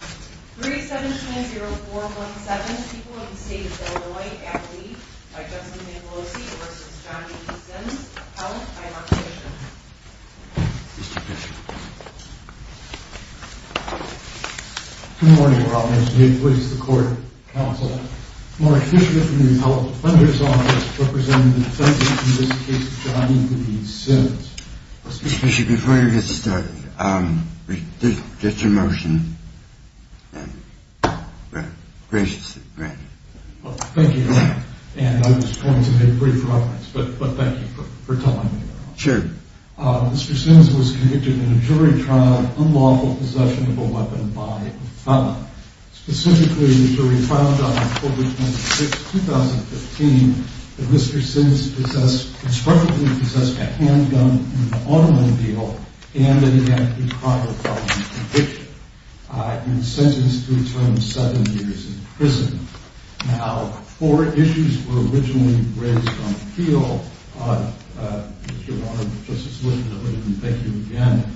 3-7-10-4-1-7 People of the State of Illinois Act Leave by Justin Manfelosi v. John E. Sims, held by Mark Fishman Mr. Fishman Good morning, Your Honors. May it please the Court, Counsel, Mark Fishman from the Appellate Defender's Office, representing the defendant in this case, John E. Sims. Mr. Fishman, before you get started, just a motion. Thank you, Your Honor, and I was going to make a brief reference, but thank you for telling me that. Sure. Mr. Sims was convicted in a jury trial of unlawful possession of a weapon by a felon. Specifically, in a jury trial filed on October 26, 2015, that Mr. Sims possessed a handgun in an automobile, and that he had a pre-trial felony conviction. He was sentenced to return seven years in prison. Now, four issues were originally raised on appeal. Mr. Warner, Justice Wilson, I would like to thank you again.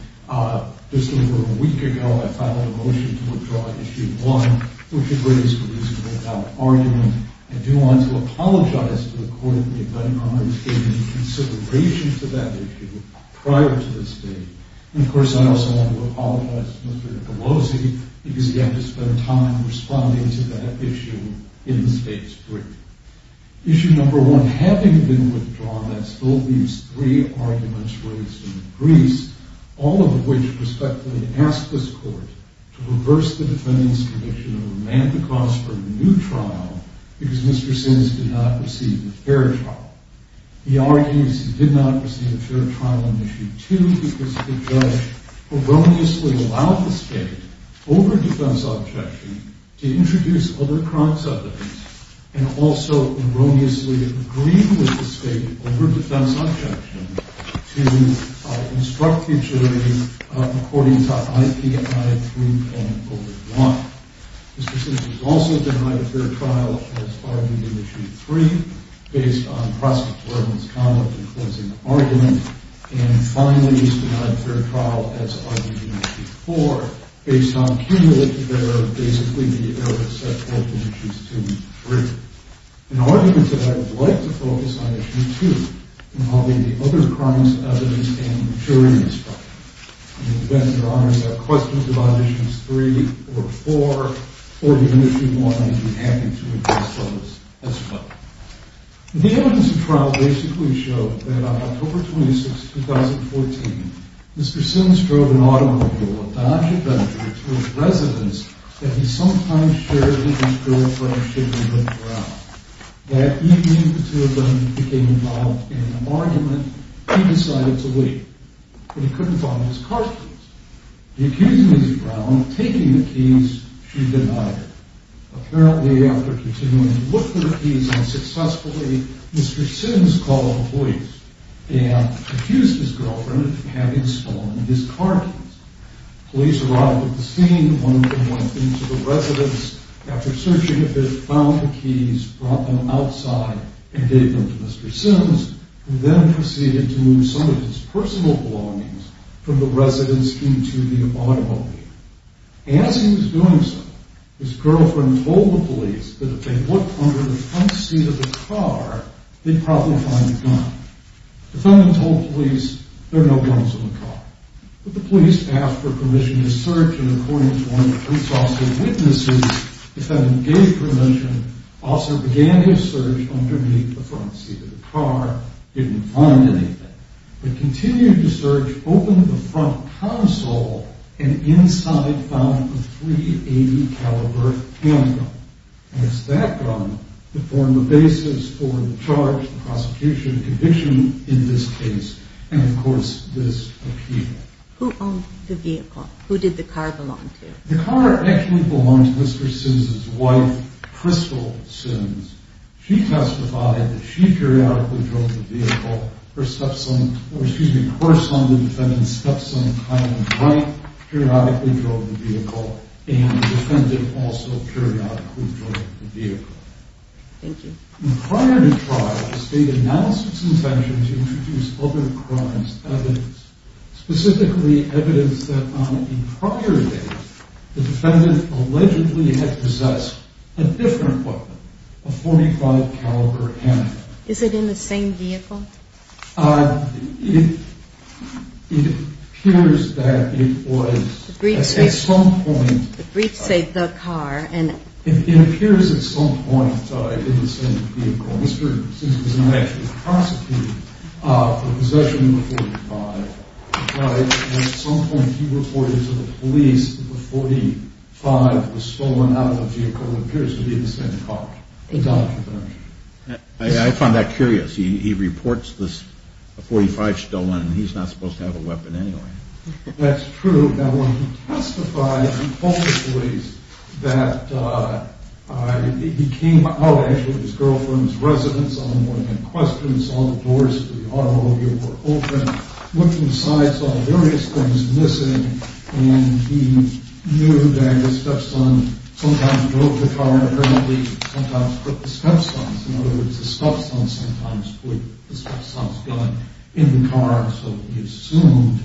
Just over a week ago, I filed a motion to withdraw Issue 1, which agrees with reason without argument. I do want to apologize to the Court for not taking any consideration to that issue prior to this date. And, of course, I also want to apologize to Mr. Pelosi, because he had to spend time responding to that issue in the State Supreme Court. Issue number one, having been withdrawn, that still leaves three arguments raised in the briefs, all of which respectfully ask this Court to reverse the defendant's prediction of a mandatory cause for a new trial, because Mr. Sims did not receive a fair trial. He argues he did not receive a fair trial in Issue 2, because the judge erroneously allowed the State, over defense objection, to introduce other chronic subjects, and also erroneously agreed with the State, over defense objection, to instruct the jury according to IPI 3.01. Mr. Sims was also denied a fair trial as argued in Issue 3, based on prosecutorial misconduct in closing the argument, and finally was denied a fair trial as argued in Issue 4, based on cumulative error, basically the error set forth in Issues 2 and 3. An argument that I would like to focus on Issue 2, involving the other crimes, evidence, and jury instruction. In the event there are any questions about Issues 3 or 4, or even Issue 1, I'd be happy to address those as well. The evidence of trial basically showed that on October 26, 2014, Mr. Sims drove an automobile, a Dodge Avenger, to his residence, that he sometimes shared with his girlfriend, Sydney Brown. That evening, the two of them became involved in an argument, and he decided to leave, but he couldn't find his car keys. The accused, Lizzie Brown, taking the keys, she denied her. Apparently, after continuing to look for the keys unsuccessfully, Mr. Sims called the police, and accused his girlfriend of having stolen his car keys. Police arrived at the scene, one of them went into the residence, after searching a bit, found the keys, brought them outside, and gave them to Mr. Sims, who then proceeded to move some of his personal belongings from the residence into the automobile. As he was doing so, his girlfriend told the police that if they looked under the front seat of the car, they'd probably find a gun. The defendant told the police, there are no guns in the car. But the police asked for permission to search, and according to one of the police officer's witnesses, the defendant gave permission, also began his search underneath the front seat of the car, didn't find anything. They continued to search, opened the front console, and inside found a .380 caliber handgun. It's that gun that formed the basis for the charge, the prosecution, the conviction in this case, and of course, this appeal. Who owned the vehicle? Who did the car belong to? The car actually belonged to Mr. Sims' wife, Crystal Sims. She testified that she periodically drove the vehicle. Her stepson, or excuse me, her son, the defendant's stepson, Kyle Wright, periodically drove the vehicle, and the defendant also periodically drove the vehicle. Prior to trial, the state announced its intention to introduce other crimes evidence, specifically evidence that on a prior date, the defendant allegedly had possessed a different weapon, a .45 caliber handgun. Is it in the same vehicle? It appears that it was at some point. The briefs say the car. It appears at some point in the same vehicle. Mr. Sims was not actually prosecuted for possession of a .45. At some point, he reported to the police that the .45 was stolen out of the vehicle that appears to be in the same car. I find that curious. He reports this .45 stolen, and he's not supposed to have a weapon anyway. That's true. Now, when he testified, he told the police that he came out, actually, with his girlfriend's residence on the morning of questions. All the doors to the automobile were open. Looking inside, saw various things missing, and he knew that the stepson sometimes drove the car, and apparently sometimes put the stepson's, in other words, the stepson sometimes put the stepson's gun in the car, so he assumed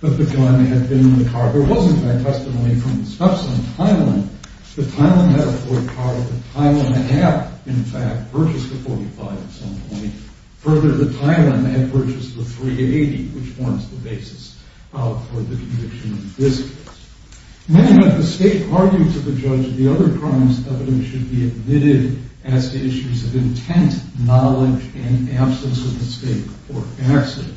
that the gun had been in the car. There was, in fact, testimony from the stepson, Tylan. The Tylan had a Ford car that the Tylan had, in fact, purchased a .45 at some point. Further, the Tylan had purchased the .380, which forms the basis for the conviction in this case. Many of the state argued to the judge that the other crimes evidence should be admitted as to issues of intent, knowledge, and absence of the state or accident.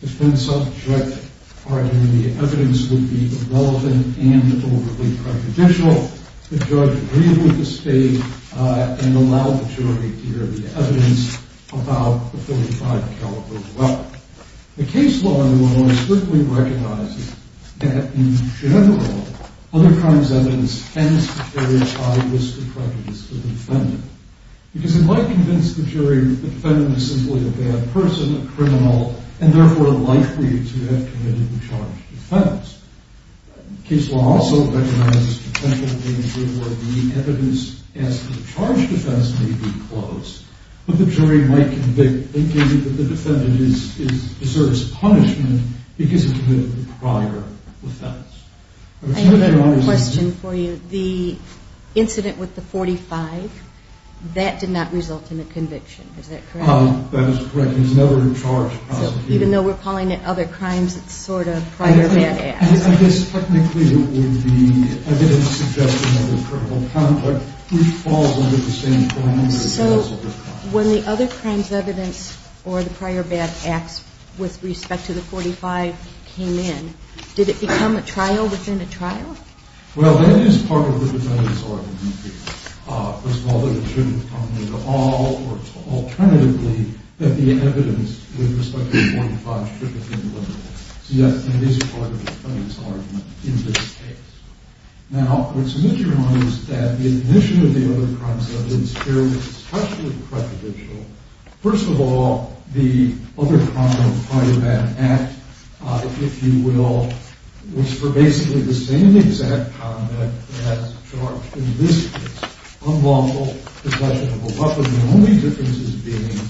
The defense objected, arguing the evidence would be irrelevant and overly prejudicial. The judge agreed with the state and allowed the jury to hear the evidence about the .45 caliber weapon. Now, the case law, in one way, strictly recognizes that, in general, other crimes evidence tends to carry a high risk of prejudice to the defendant, because it might convince the jury that the defendant is simply a bad person, a criminal, and therefore likely to have committed a charged offense. Case law also recognizes the potential danger where the evidence as to the charged offense may be close, but the jury might convict, thinking that the defendant deserves punishment because he committed a prior offense. I have a question for you. The incident with the .45, that did not result in a conviction. Is that correct? That is correct. He was never in charge of prosecuting. Even though we're calling it other crimes, it's sort of prior bad acts. I guess, technically, it would be evidence suggesting another criminal conduct, which falls under the same framework. So when the other crimes evidence or the prior bad acts with respect to the .45 came in, did it become a trial within a trial? Well, that is part of the defendant's argument. First of all, that it shouldn't come into all courts. Alternatively, that the evidence with respect to the .45 should be delivered. So, yes, that is part of the defendant's argument in this case. Now, what's interesting is that the admission of the other crimes evidence here is especially prejudicial. First of all, the other crime prior bad act, if you will, was for basically the same exact conduct as charged in this case. Unlawful possession of a weapon. The only difference is being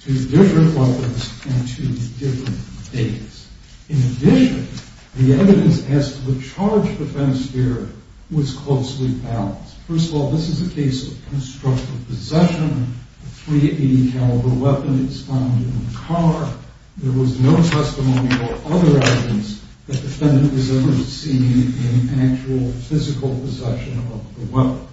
two different weapons and two different dates. In addition, the evidence as to the charge defense here was closely balanced. First of all, this is a case of constructive possession. A .380 caliber weapon is found in the car. There was no testimony or other evidence that the defendant was ever seen in actual physical possession of the weapon.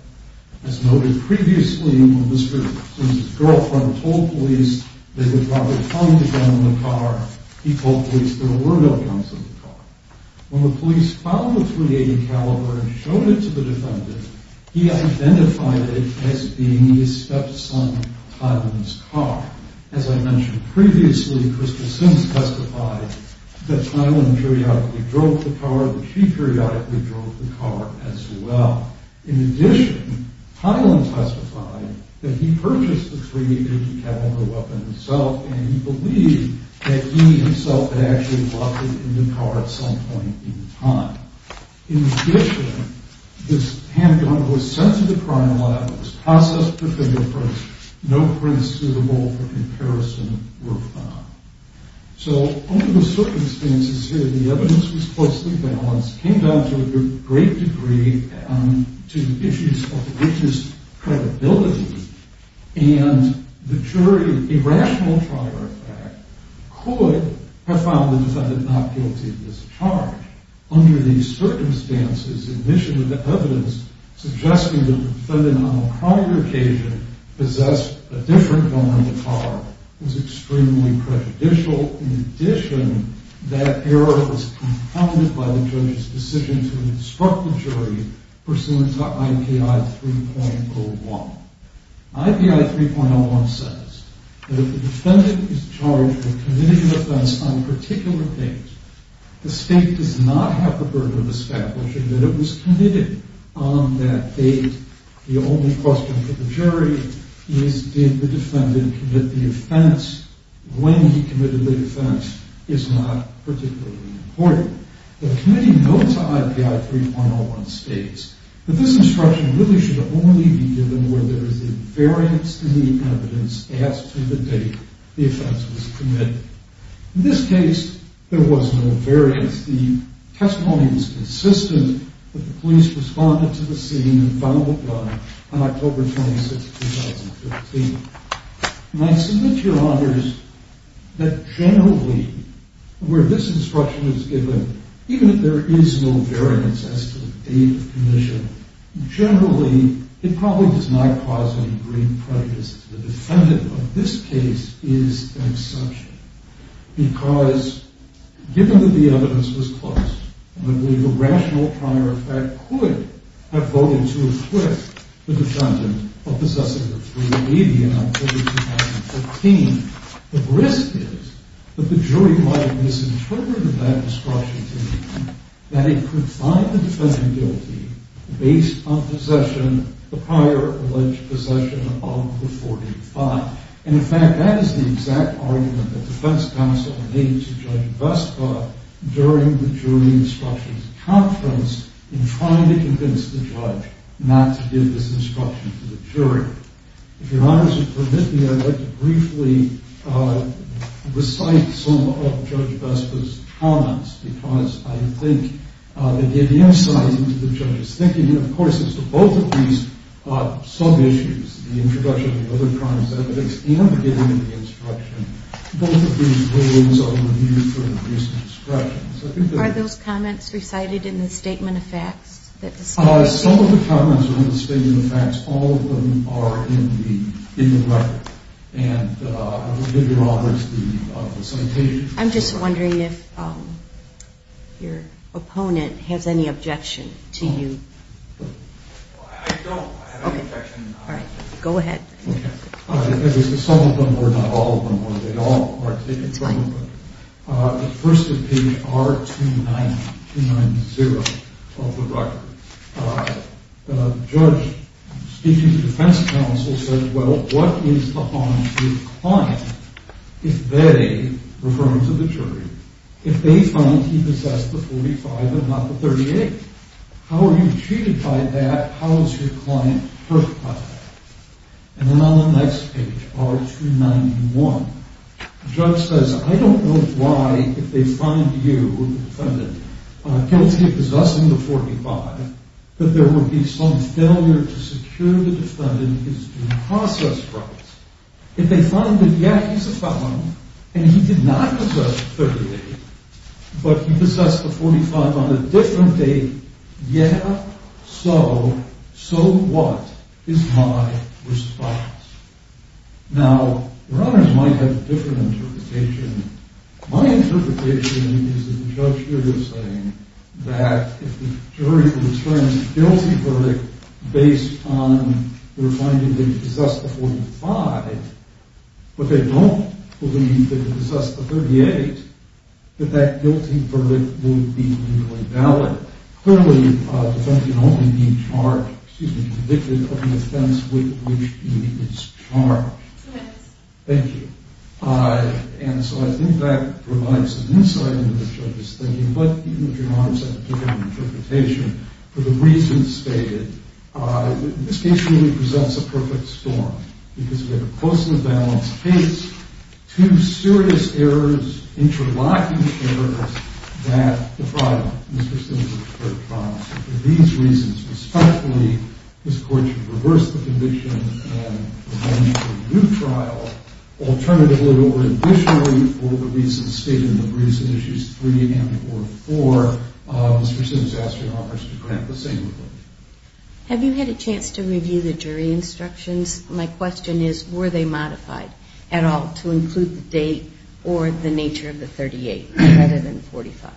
As noted previously, when Mr. Simpson's girlfriend told police they would rather hunt a gun in the car, he told police there were no guns in the car. When the police found the .380 caliber and showed it to the defendant, he identified it as being his stepson, Tylan's, car. As I mentioned previously, Crystal Sims testified that Tylan periodically drove the car, that she periodically drove the car as well. In addition, Tylan testified that he purchased the .380 caliber weapon himself and he believed that he himself had actually locked it in the car at some point in time. In addition, this handgun was sent to the crime lab. It was processed for fingerprints. No prints suitable for comparison were found. So under the circumstances here, the evidence was closely balanced. It came down to a great degree to the issues of the witness' credibility and the jury, irrational to our effect, could have found the defendant not guilty of this charge. Under these circumstances, admission of the evidence suggesting the defendant on a prior occasion possessed a different gun in the car was extremely prejudicial. In addition, that error was compounded by the judge's decision to instruct the jury pursuant to IPI 3.01. IPI 3.01 says that if the defendant is charged with committing an offense on a particular date, the state does not have the burden of establishing that it was committed on that date. The only question for the jury is did the defendant commit the offense when he committed the offense is not particularly important. The committee note to IPI 3.01 states that this instruction really should only be given where there is a variance in the evidence as to the date the offense was committed. In this case, there was no variance. The testimony is consistent that the police responded to the scene and found the gun on October 26, 2015. And I submit to your honors that generally where this instruction is given, even if there is no variance as to the date of commission, generally it probably does not cause any great prejudice. The defendant of this case is an exception because given that the evidence was close, I believe a rational prior effect could have voted to acquit the defendant of possessing the .380 in October 2015. The risk is that the jury might have misinterpreted that instruction to mean that it could find the defendant guilty based on possession, the prior alleged possession of the .485. And in fact, that is the exact argument that the defense counsel made to Judge Vespa during the jury instructions conference in trying to convince the judge not to give this instruction to the jury. If your honors would permit me, I'd like to briefly recite some of Judge Vespa's comments because I think they give the insight into the judge's thinking. And of course, as to both of these sub-issues, the introduction of other crimes evidence and the giving of the instruction, both of these rules are to be used for increased discretion. Are those comments recited in the Statement of Facts? Some of the comments are in the Statement of Facts. All of them are in the record. And I will give your honors the citation. I'm just wondering if your opponent has any objection to you. I don't. I have no objection. All right. Go ahead. Some of them are, not all of them are. They all are taken from the book. The first is page R290, 290 of the record. The judge speaking to the defense counsel said, well, what is the harm to the client if they, referring to the jury, if they find he possessed the .45 and not the .38? How are you treated by that? How is your client hurt by that? And then on the next page, R291, the judge says, I don't know why, if they find you, the defendant, guilty of possessing the .45, that there would be some failure to secure the defendant his due process rights. If they find that, yeah, he's a felon, and he did not possess the .38, but he possessed the .45 on a different date, yeah, so? So what is my response? Now, your honors might have a different interpretation. My interpretation is that the judge here is saying that if the jury returns a guilty verdict based on their finding that he possessed the .45, but they don't believe that he possessed the .38, that that guilty verdict would be legally valid. Clearly, the defendant can only be charged, excuse me, convicted of the offense with which he is charged. Thank you. And so I think that provides an insight into the judge's thinking. But even if your honors have a different interpretation, for the reasons stated, this case really presents a perfect storm because we have a close-to-the-balance case, two serious errors, interlocking errors, that the trial, Mr. Sims, would prefer trial. So for these reasons, respectfully, this Court should reverse the conviction and prevent a new trial. Alternatively, or additionally, for the reasons stated in the briefs in Issues 3 and 4, Mr. Sims, I ask your honors to grant the same rebuttal. Have you had a chance to review the jury instructions? My question is, were they modified at all to include the date or the nature of the .38 rather than .45?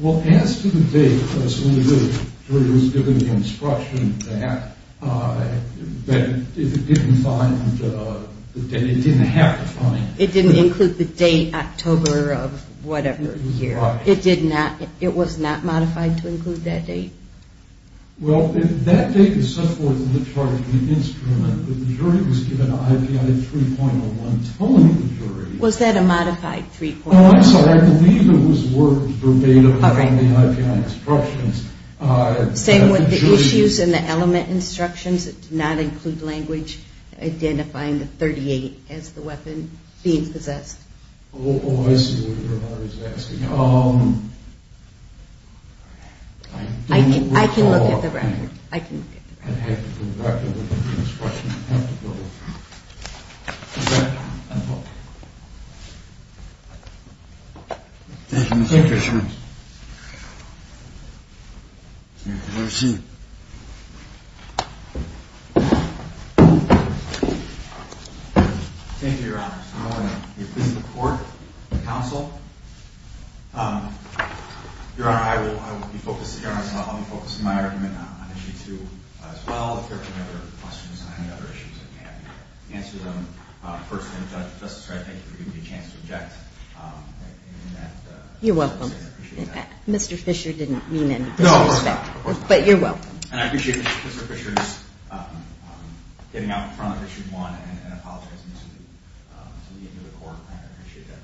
Well, as to the date, as soon as the jury was given the instruction, it didn't have to find it. It didn't include the date, October of whatever year. It was not modified to include that date? Well, that date is set forth in the chart of the instrument, but the jury was given an IPI of 3.01 telling the jury. Was that a modified 3.01? No, I'm sorry. I believe it was word verbatim in the IPI instructions. Same with the issues and the element instructions? It did not include language identifying the .38 as the weapon being possessed? Oh, I see what your honor is asking. I can look at the record. I have to go back and look at the instructions. Thank you, Mr. Fisherman. Have a seat. Thank you, your honor. I'm going to be presenting the court, the counsel. Your honor, I will be focusing my argument on issue two as well. If there are any other questions or any other issues, I can answer them. First, Justice Wright, thank you for giving me a chance to object. You're welcome. Mr. Fisher didn't mean any disrespect. No, of course not. But you're welcome. And I appreciate Mr. Fisher's getting out in front of issue one and apologizing to the end of the court. I appreciate that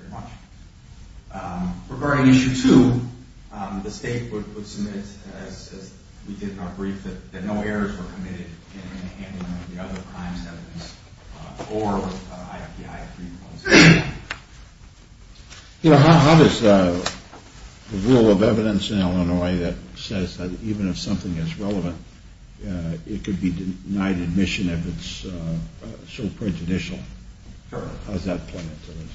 very much. Regarding issue two, the state would submit, as we did in our brief, that no errors were committed in the handling of the other crimes evidence or IPI 3.01. You know, how does the rule of evidence in Illinois that says that even if something is relevant, it could be denied admission if it's so prejudicial, how does that play into this?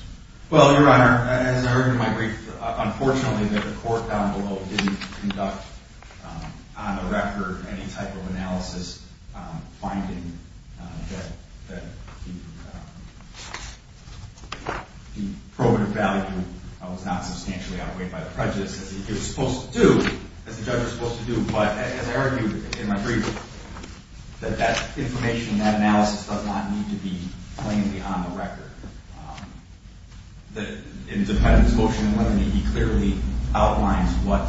Well, your honor, as I heard in my brief, unfortunately the court down below didn't conduct on the record any type of analysis finding that the probative value was not substantially outweighed by the prejudice, as it was supposed to do, as the judge was supposed to do. But as I argued in my brief, that that information, that analysis does not need to be plainly on the record. In the defendant's motion in limine, he clearly outlines what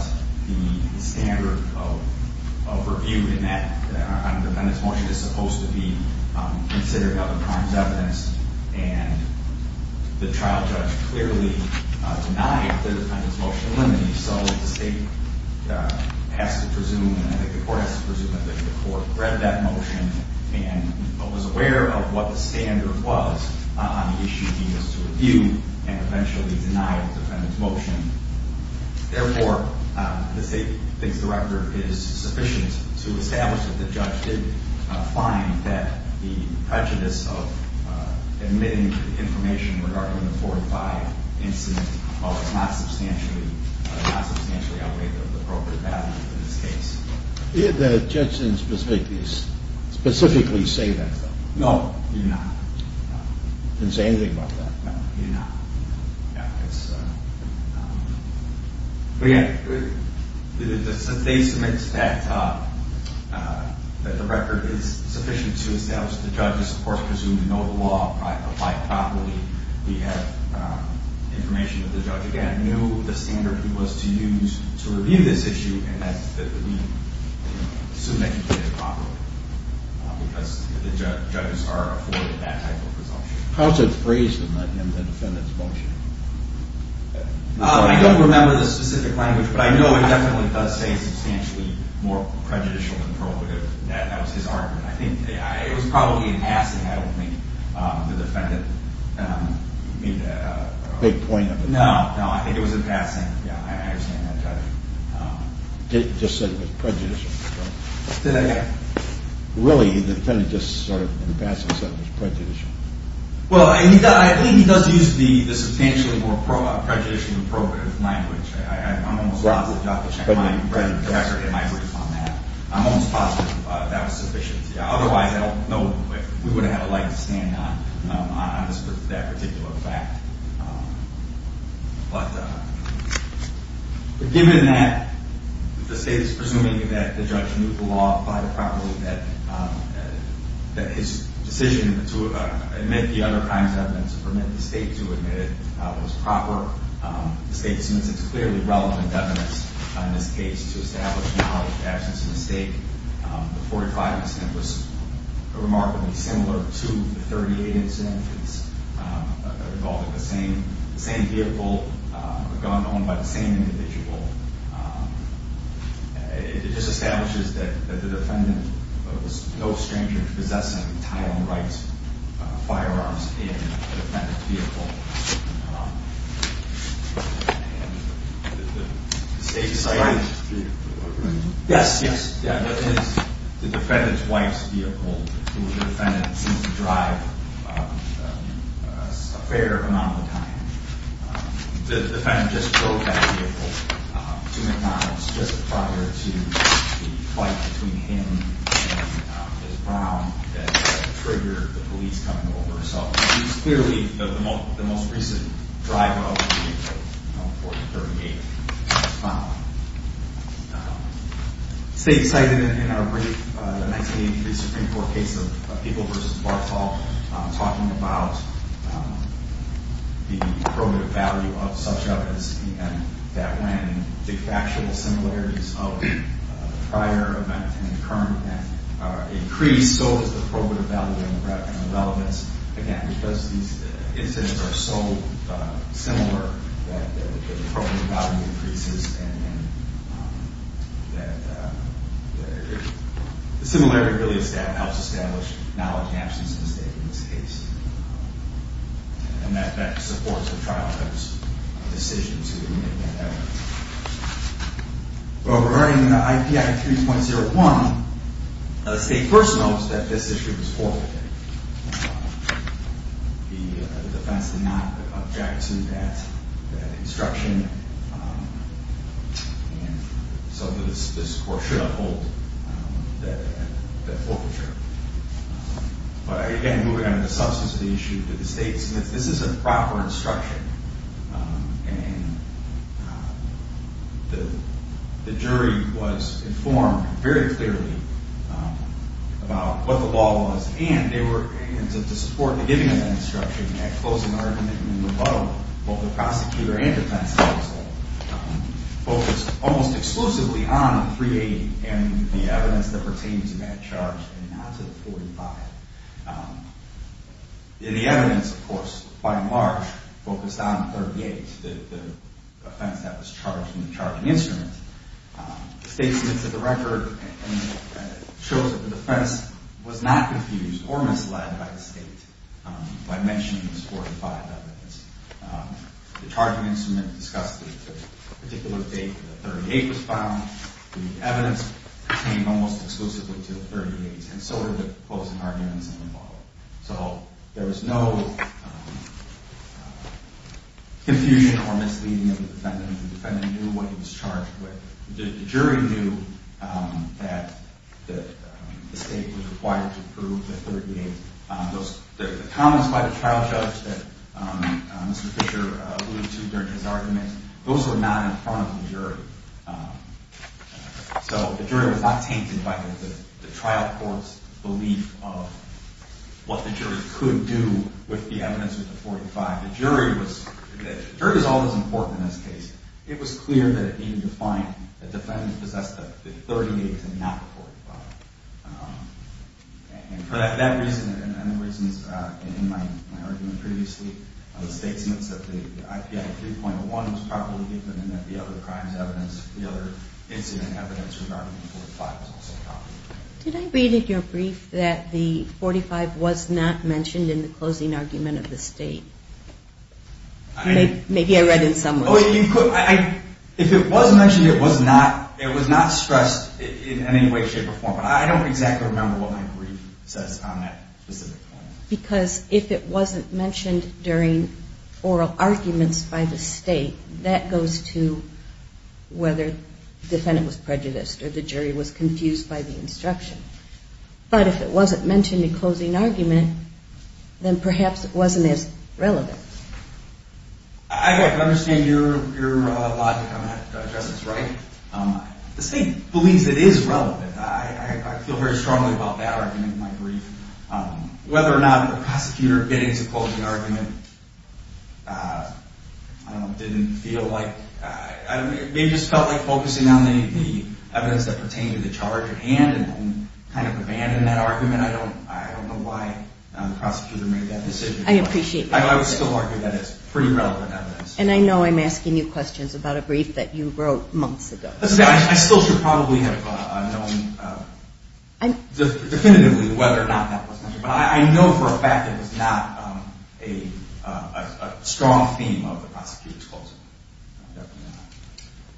the standard of review in that, on the defendant's motion, is supposed to be considering other crimes evidence. And the trial judge clearly denied the defendant's motion in limine. So the state has to presume, I think the court has to presume that the court read that motion and was aware of what the standard was on the issue he was to review and eventually denied the defendant's motion. Therefore, the state thinks the record is sufficient to establish that the judge did find that the prejudice of admitting information regarding the 45 incident was not substantially outweighed by the probative value in this case. The judge didn't specifically say that, though. No, he did not. He didn't say anything about that. No, he did not. But again, the state submits that the record is sufficient to establish that the judge is, of course, presumed to know the law and apply it properly. We have information that the judge, again, knew the standard he was to use to review this issue and that he submitted it properly because the judges are afforded that type of presumption. How is it phrased in the defendant's motion? I don't remember the specific language, but I know it definitely does say substantially more prejudicial than probative. That was his argument. I think it was probably a passing. I don't think the defendant made a big point of it. No, no, I think it was a passing. Yeah, I understand that, Judge. He just said it was prejudicial. Did I get it? Really, the defendant just sort of in passing said it was prejudicial. Well, I think he does use the substantially more prejudicial than probative language. I'm almost positive that was sufficient. Otherwise, I don't know if we would have had a liking to stand on that particular fact. But given that the state is presuming that the judge knew the law quite appropriately, that his decision to admit the other crimes evidence and permit the state to admit it was proper, the state assumes it's clearly relevant evidence in this case to establish the absence of a mistake. The 45 incident was remarkably similar to the 38 incidents involving the same vehicle, a gun owned by the same individual. It just establishes that the defendant was no stranger to possessing Title I rights firearms in a defendant's vehicle. Did the state cite it? Yes, yes. The defendant's wife's vehicle, who the defendant seems to drive a fair amount of the time. The defendant just drove that vehicle to McDonald's just prior to the fight between him and Ms. Brown that triggered the police coming over. So it's clearly the most recent drive of the 48. The state cited in our brief the 1983 Supreme Court case of People v. Barthol talking about the probative value of such evidence and that when the factual similarities of a prior event and a current event are increased, so is the probative value and the relevance. Again, because these incidents are so similar that the probative value increases and the similarity really helps establish knowledge of the absence of a mistake in this case. And that supports the trial judge's decision to make that evidence. Well, regarding the IP Act 3.01, the state first notes that this issue was forfeited. The defense did not object to that instruction and so this court should uphold that forfeiture. But again, moving on to the substance of the issue, the state says this is a proper instruction and the jury was informed very clearly about what the law was and they were able to support the giving of that instruction and that closing argument and rebuttal of both the prosecutor and defense counsel focused almost exclusively on the 380 and the evidence that pertains to that charge and not to the 45. The evidence, of course, by and large focused on 38, the offense that was charged in the charging instrument. The state submits a record and shows that the defense was not confused or misled by the state by mentioning this 45 evidence. The charging instrument discussed the particular date the 38 was found. The evidence pertained almost exclusively to the 38 and so were the closing arguments and rebuttal. So there was no confusion or misleading of the defendant. The defendant knew what he was charged with. The jury knew that the state was required to prove the 38. The comments by the trial judge that Mr. Fisher alluded to during his argument, those were not in front of the jury. So the jury was not tainted by the trial court's belief of what the jury could do with the evidence of the 45. The jury was always important in this case. It was clear that it needed to find that the defendant possessed the 38 and not the 45. And for that reason and the reasons in my argument previously, the state submits that the IPI 3.01 was properly given and that the other crimes evidence, the other incident evidence regarding the 45 was also properly given. Did I read in your brief that the 45 was not mentioned in the closing argument of the state? If it was mentioned, it was not stressed in any way, shape or form. I don't exactly remember what my brief says on that specific point. Because if it wasn't mentioned during oral arguments by the state, that goes to whether the defendant was prejudiced or the jury was confused by the instruction. But if it wasn't mentioned in closing argument, then perhaps it wasn't as relevant. I understand your logic on that, Justice Wright. The state believes it is relevant. I feel very strongly about that argument in my brief. Whether or not the prosecutor bid into closing argument, I don't know, didn't feel like, maybe just felt like focusing on the evidence that pertained to the charge at hand and kind of abandoned that argument. I don't know why the prosecutor made that decision. I appreciate that. I would still argue that it's pretty relevant evidence. And I know I'm asking you questions about a brief that you wrote months ago. I still should probably have known definitively whether or not that was mentioned. But I know for a fact that it was not a strong theme of the prosecutor's closing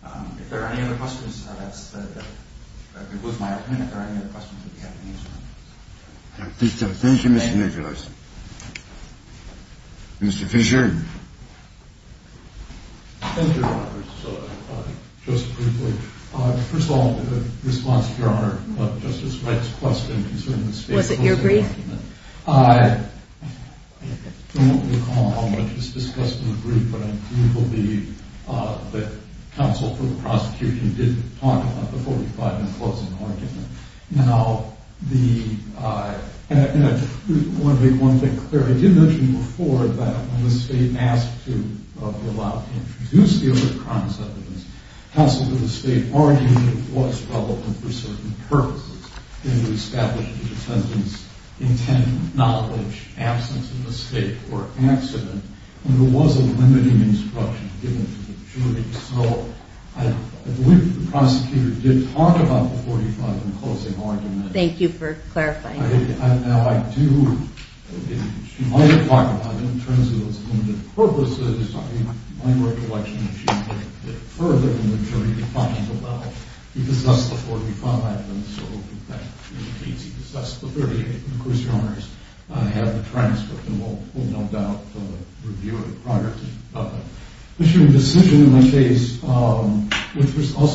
argument. If there are any other questions, that's the end of it. It was my opinion. If there are any other questions, we'll be happy to answer them. Thank you, Mr. Nicholas. Mr. Fisher. Thank you, Your Honor. Just briefly, first of all, in response to Your Honor, Justice Wright's question concerning the state closing argument. Was it your brief? I don't recall how much was discussed in the brief, but I believe it will be that counsel for the prosecution did talk about the 45 in closing argument. Now, I want to make one thing clear. I did mention before that when the state asked to be allowed to introduce the other crimes evidence, counsel for the state argued it was relevant for certain purposes. It established the defendant's intended knowledge, absence of a state, or accident. And there was a limiting instruction given to the jury. So, I believe the prosecutor did talk about the 45 in closing argument. Thank you for clarifying. Now, I do, she might have talked about it in terms of its limited purposes. I mean, my recollection is she did further in the jury to talk about it. He possessed the 45, and so that means he possessed the 38. And of course, Your Honor, I have the transcript, and we'll no doubt review it in progress. Assuming decision in this case, also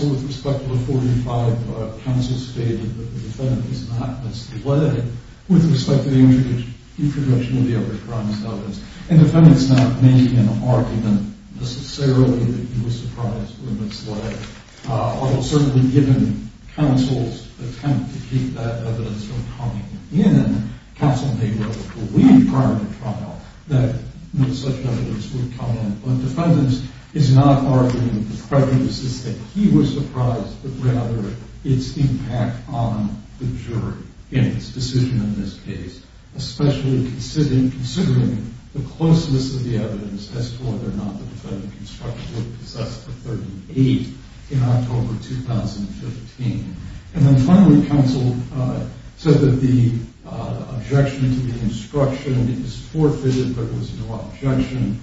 with respect to the 45, counsel stated that the defendant is not misled with respect to the introduction of the other crimes evidence. And the defendant's not making an argument necessarily that he was surprised or misled, although certainly given counsel's attempt to keep that evidence from coming in, counsel may well believe, prior to the trial, that such evidence would come in. But the defendant is not arguing that the prejudice is that he was surprised, but rather its impact on the jury in its decision in this case, especially considering the closeness of the evidence as to whether or not the defendant constructively possessed the 38 in October 2015. And then finally, counsel said that the objection to the instruction is forfeited, but it was no objection.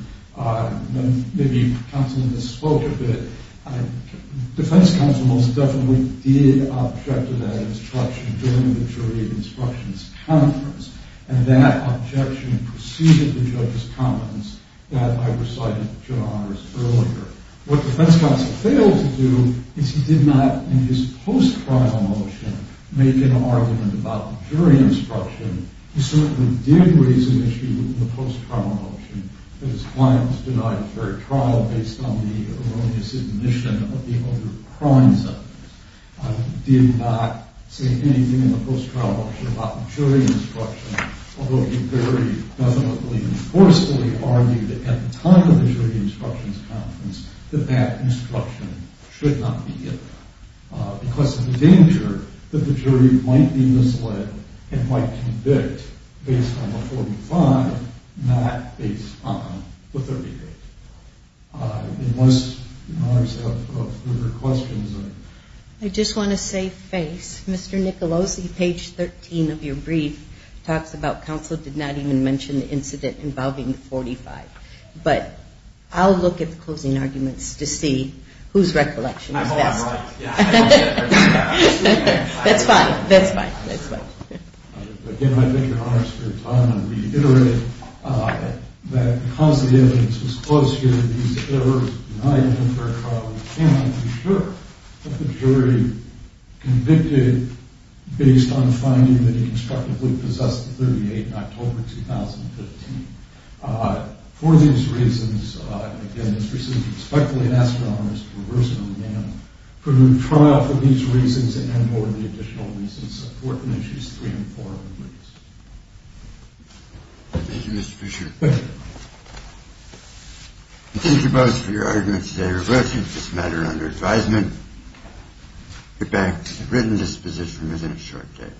Maybe counsel misspoke a bit. Defense counsel most definitely did object to that instruction during the jury instructions conference, and that objection preceded the judge's comments that I recited to Your Honors earlier. What defense counsel failed to do is he did not, in his post-trial motion, make an argument about jury instruction. He certainly did raise an issue in the post-trial motion that his client was denied a fair trial based on the erroneous admission of the other crimes evidence. He did not say anything in the post-trial motion about jury instruction, although he very definitely and forcefully argued at the time of the jury instructions conference that that instruction should not be given because of the danger that the jury might be misled and might convict based on the 45, not based on the 38. Unless Your Honors have further questions. I just want to save face. Mr. Nicolosi, page 13 of your brief talks about counsel did not even mention the incident involving the 45. But I'll look at the closing arguments to see whose recollection is best. I hope I'm right. That's fine. That's fine. Again, I thank Your Honors for your time. I just want to reiterate that because the evidence was closed here, these errors were denied a fair trial. We can't be sure that the jury convicted based on the finding that he constructively possessed the 38 in October 2015. For these reasons, and again, it's received respectfully, I'd ask Your Honors to reverse it on the panel, for the trial for these reasons and more of the additional reasons, supporting issues three and four of the briefs. Thank you, Mr. Fisher. Thank you. Thank you both for your arguments today. Reverse this matter under advisement. Get back to the written disposition within a short day.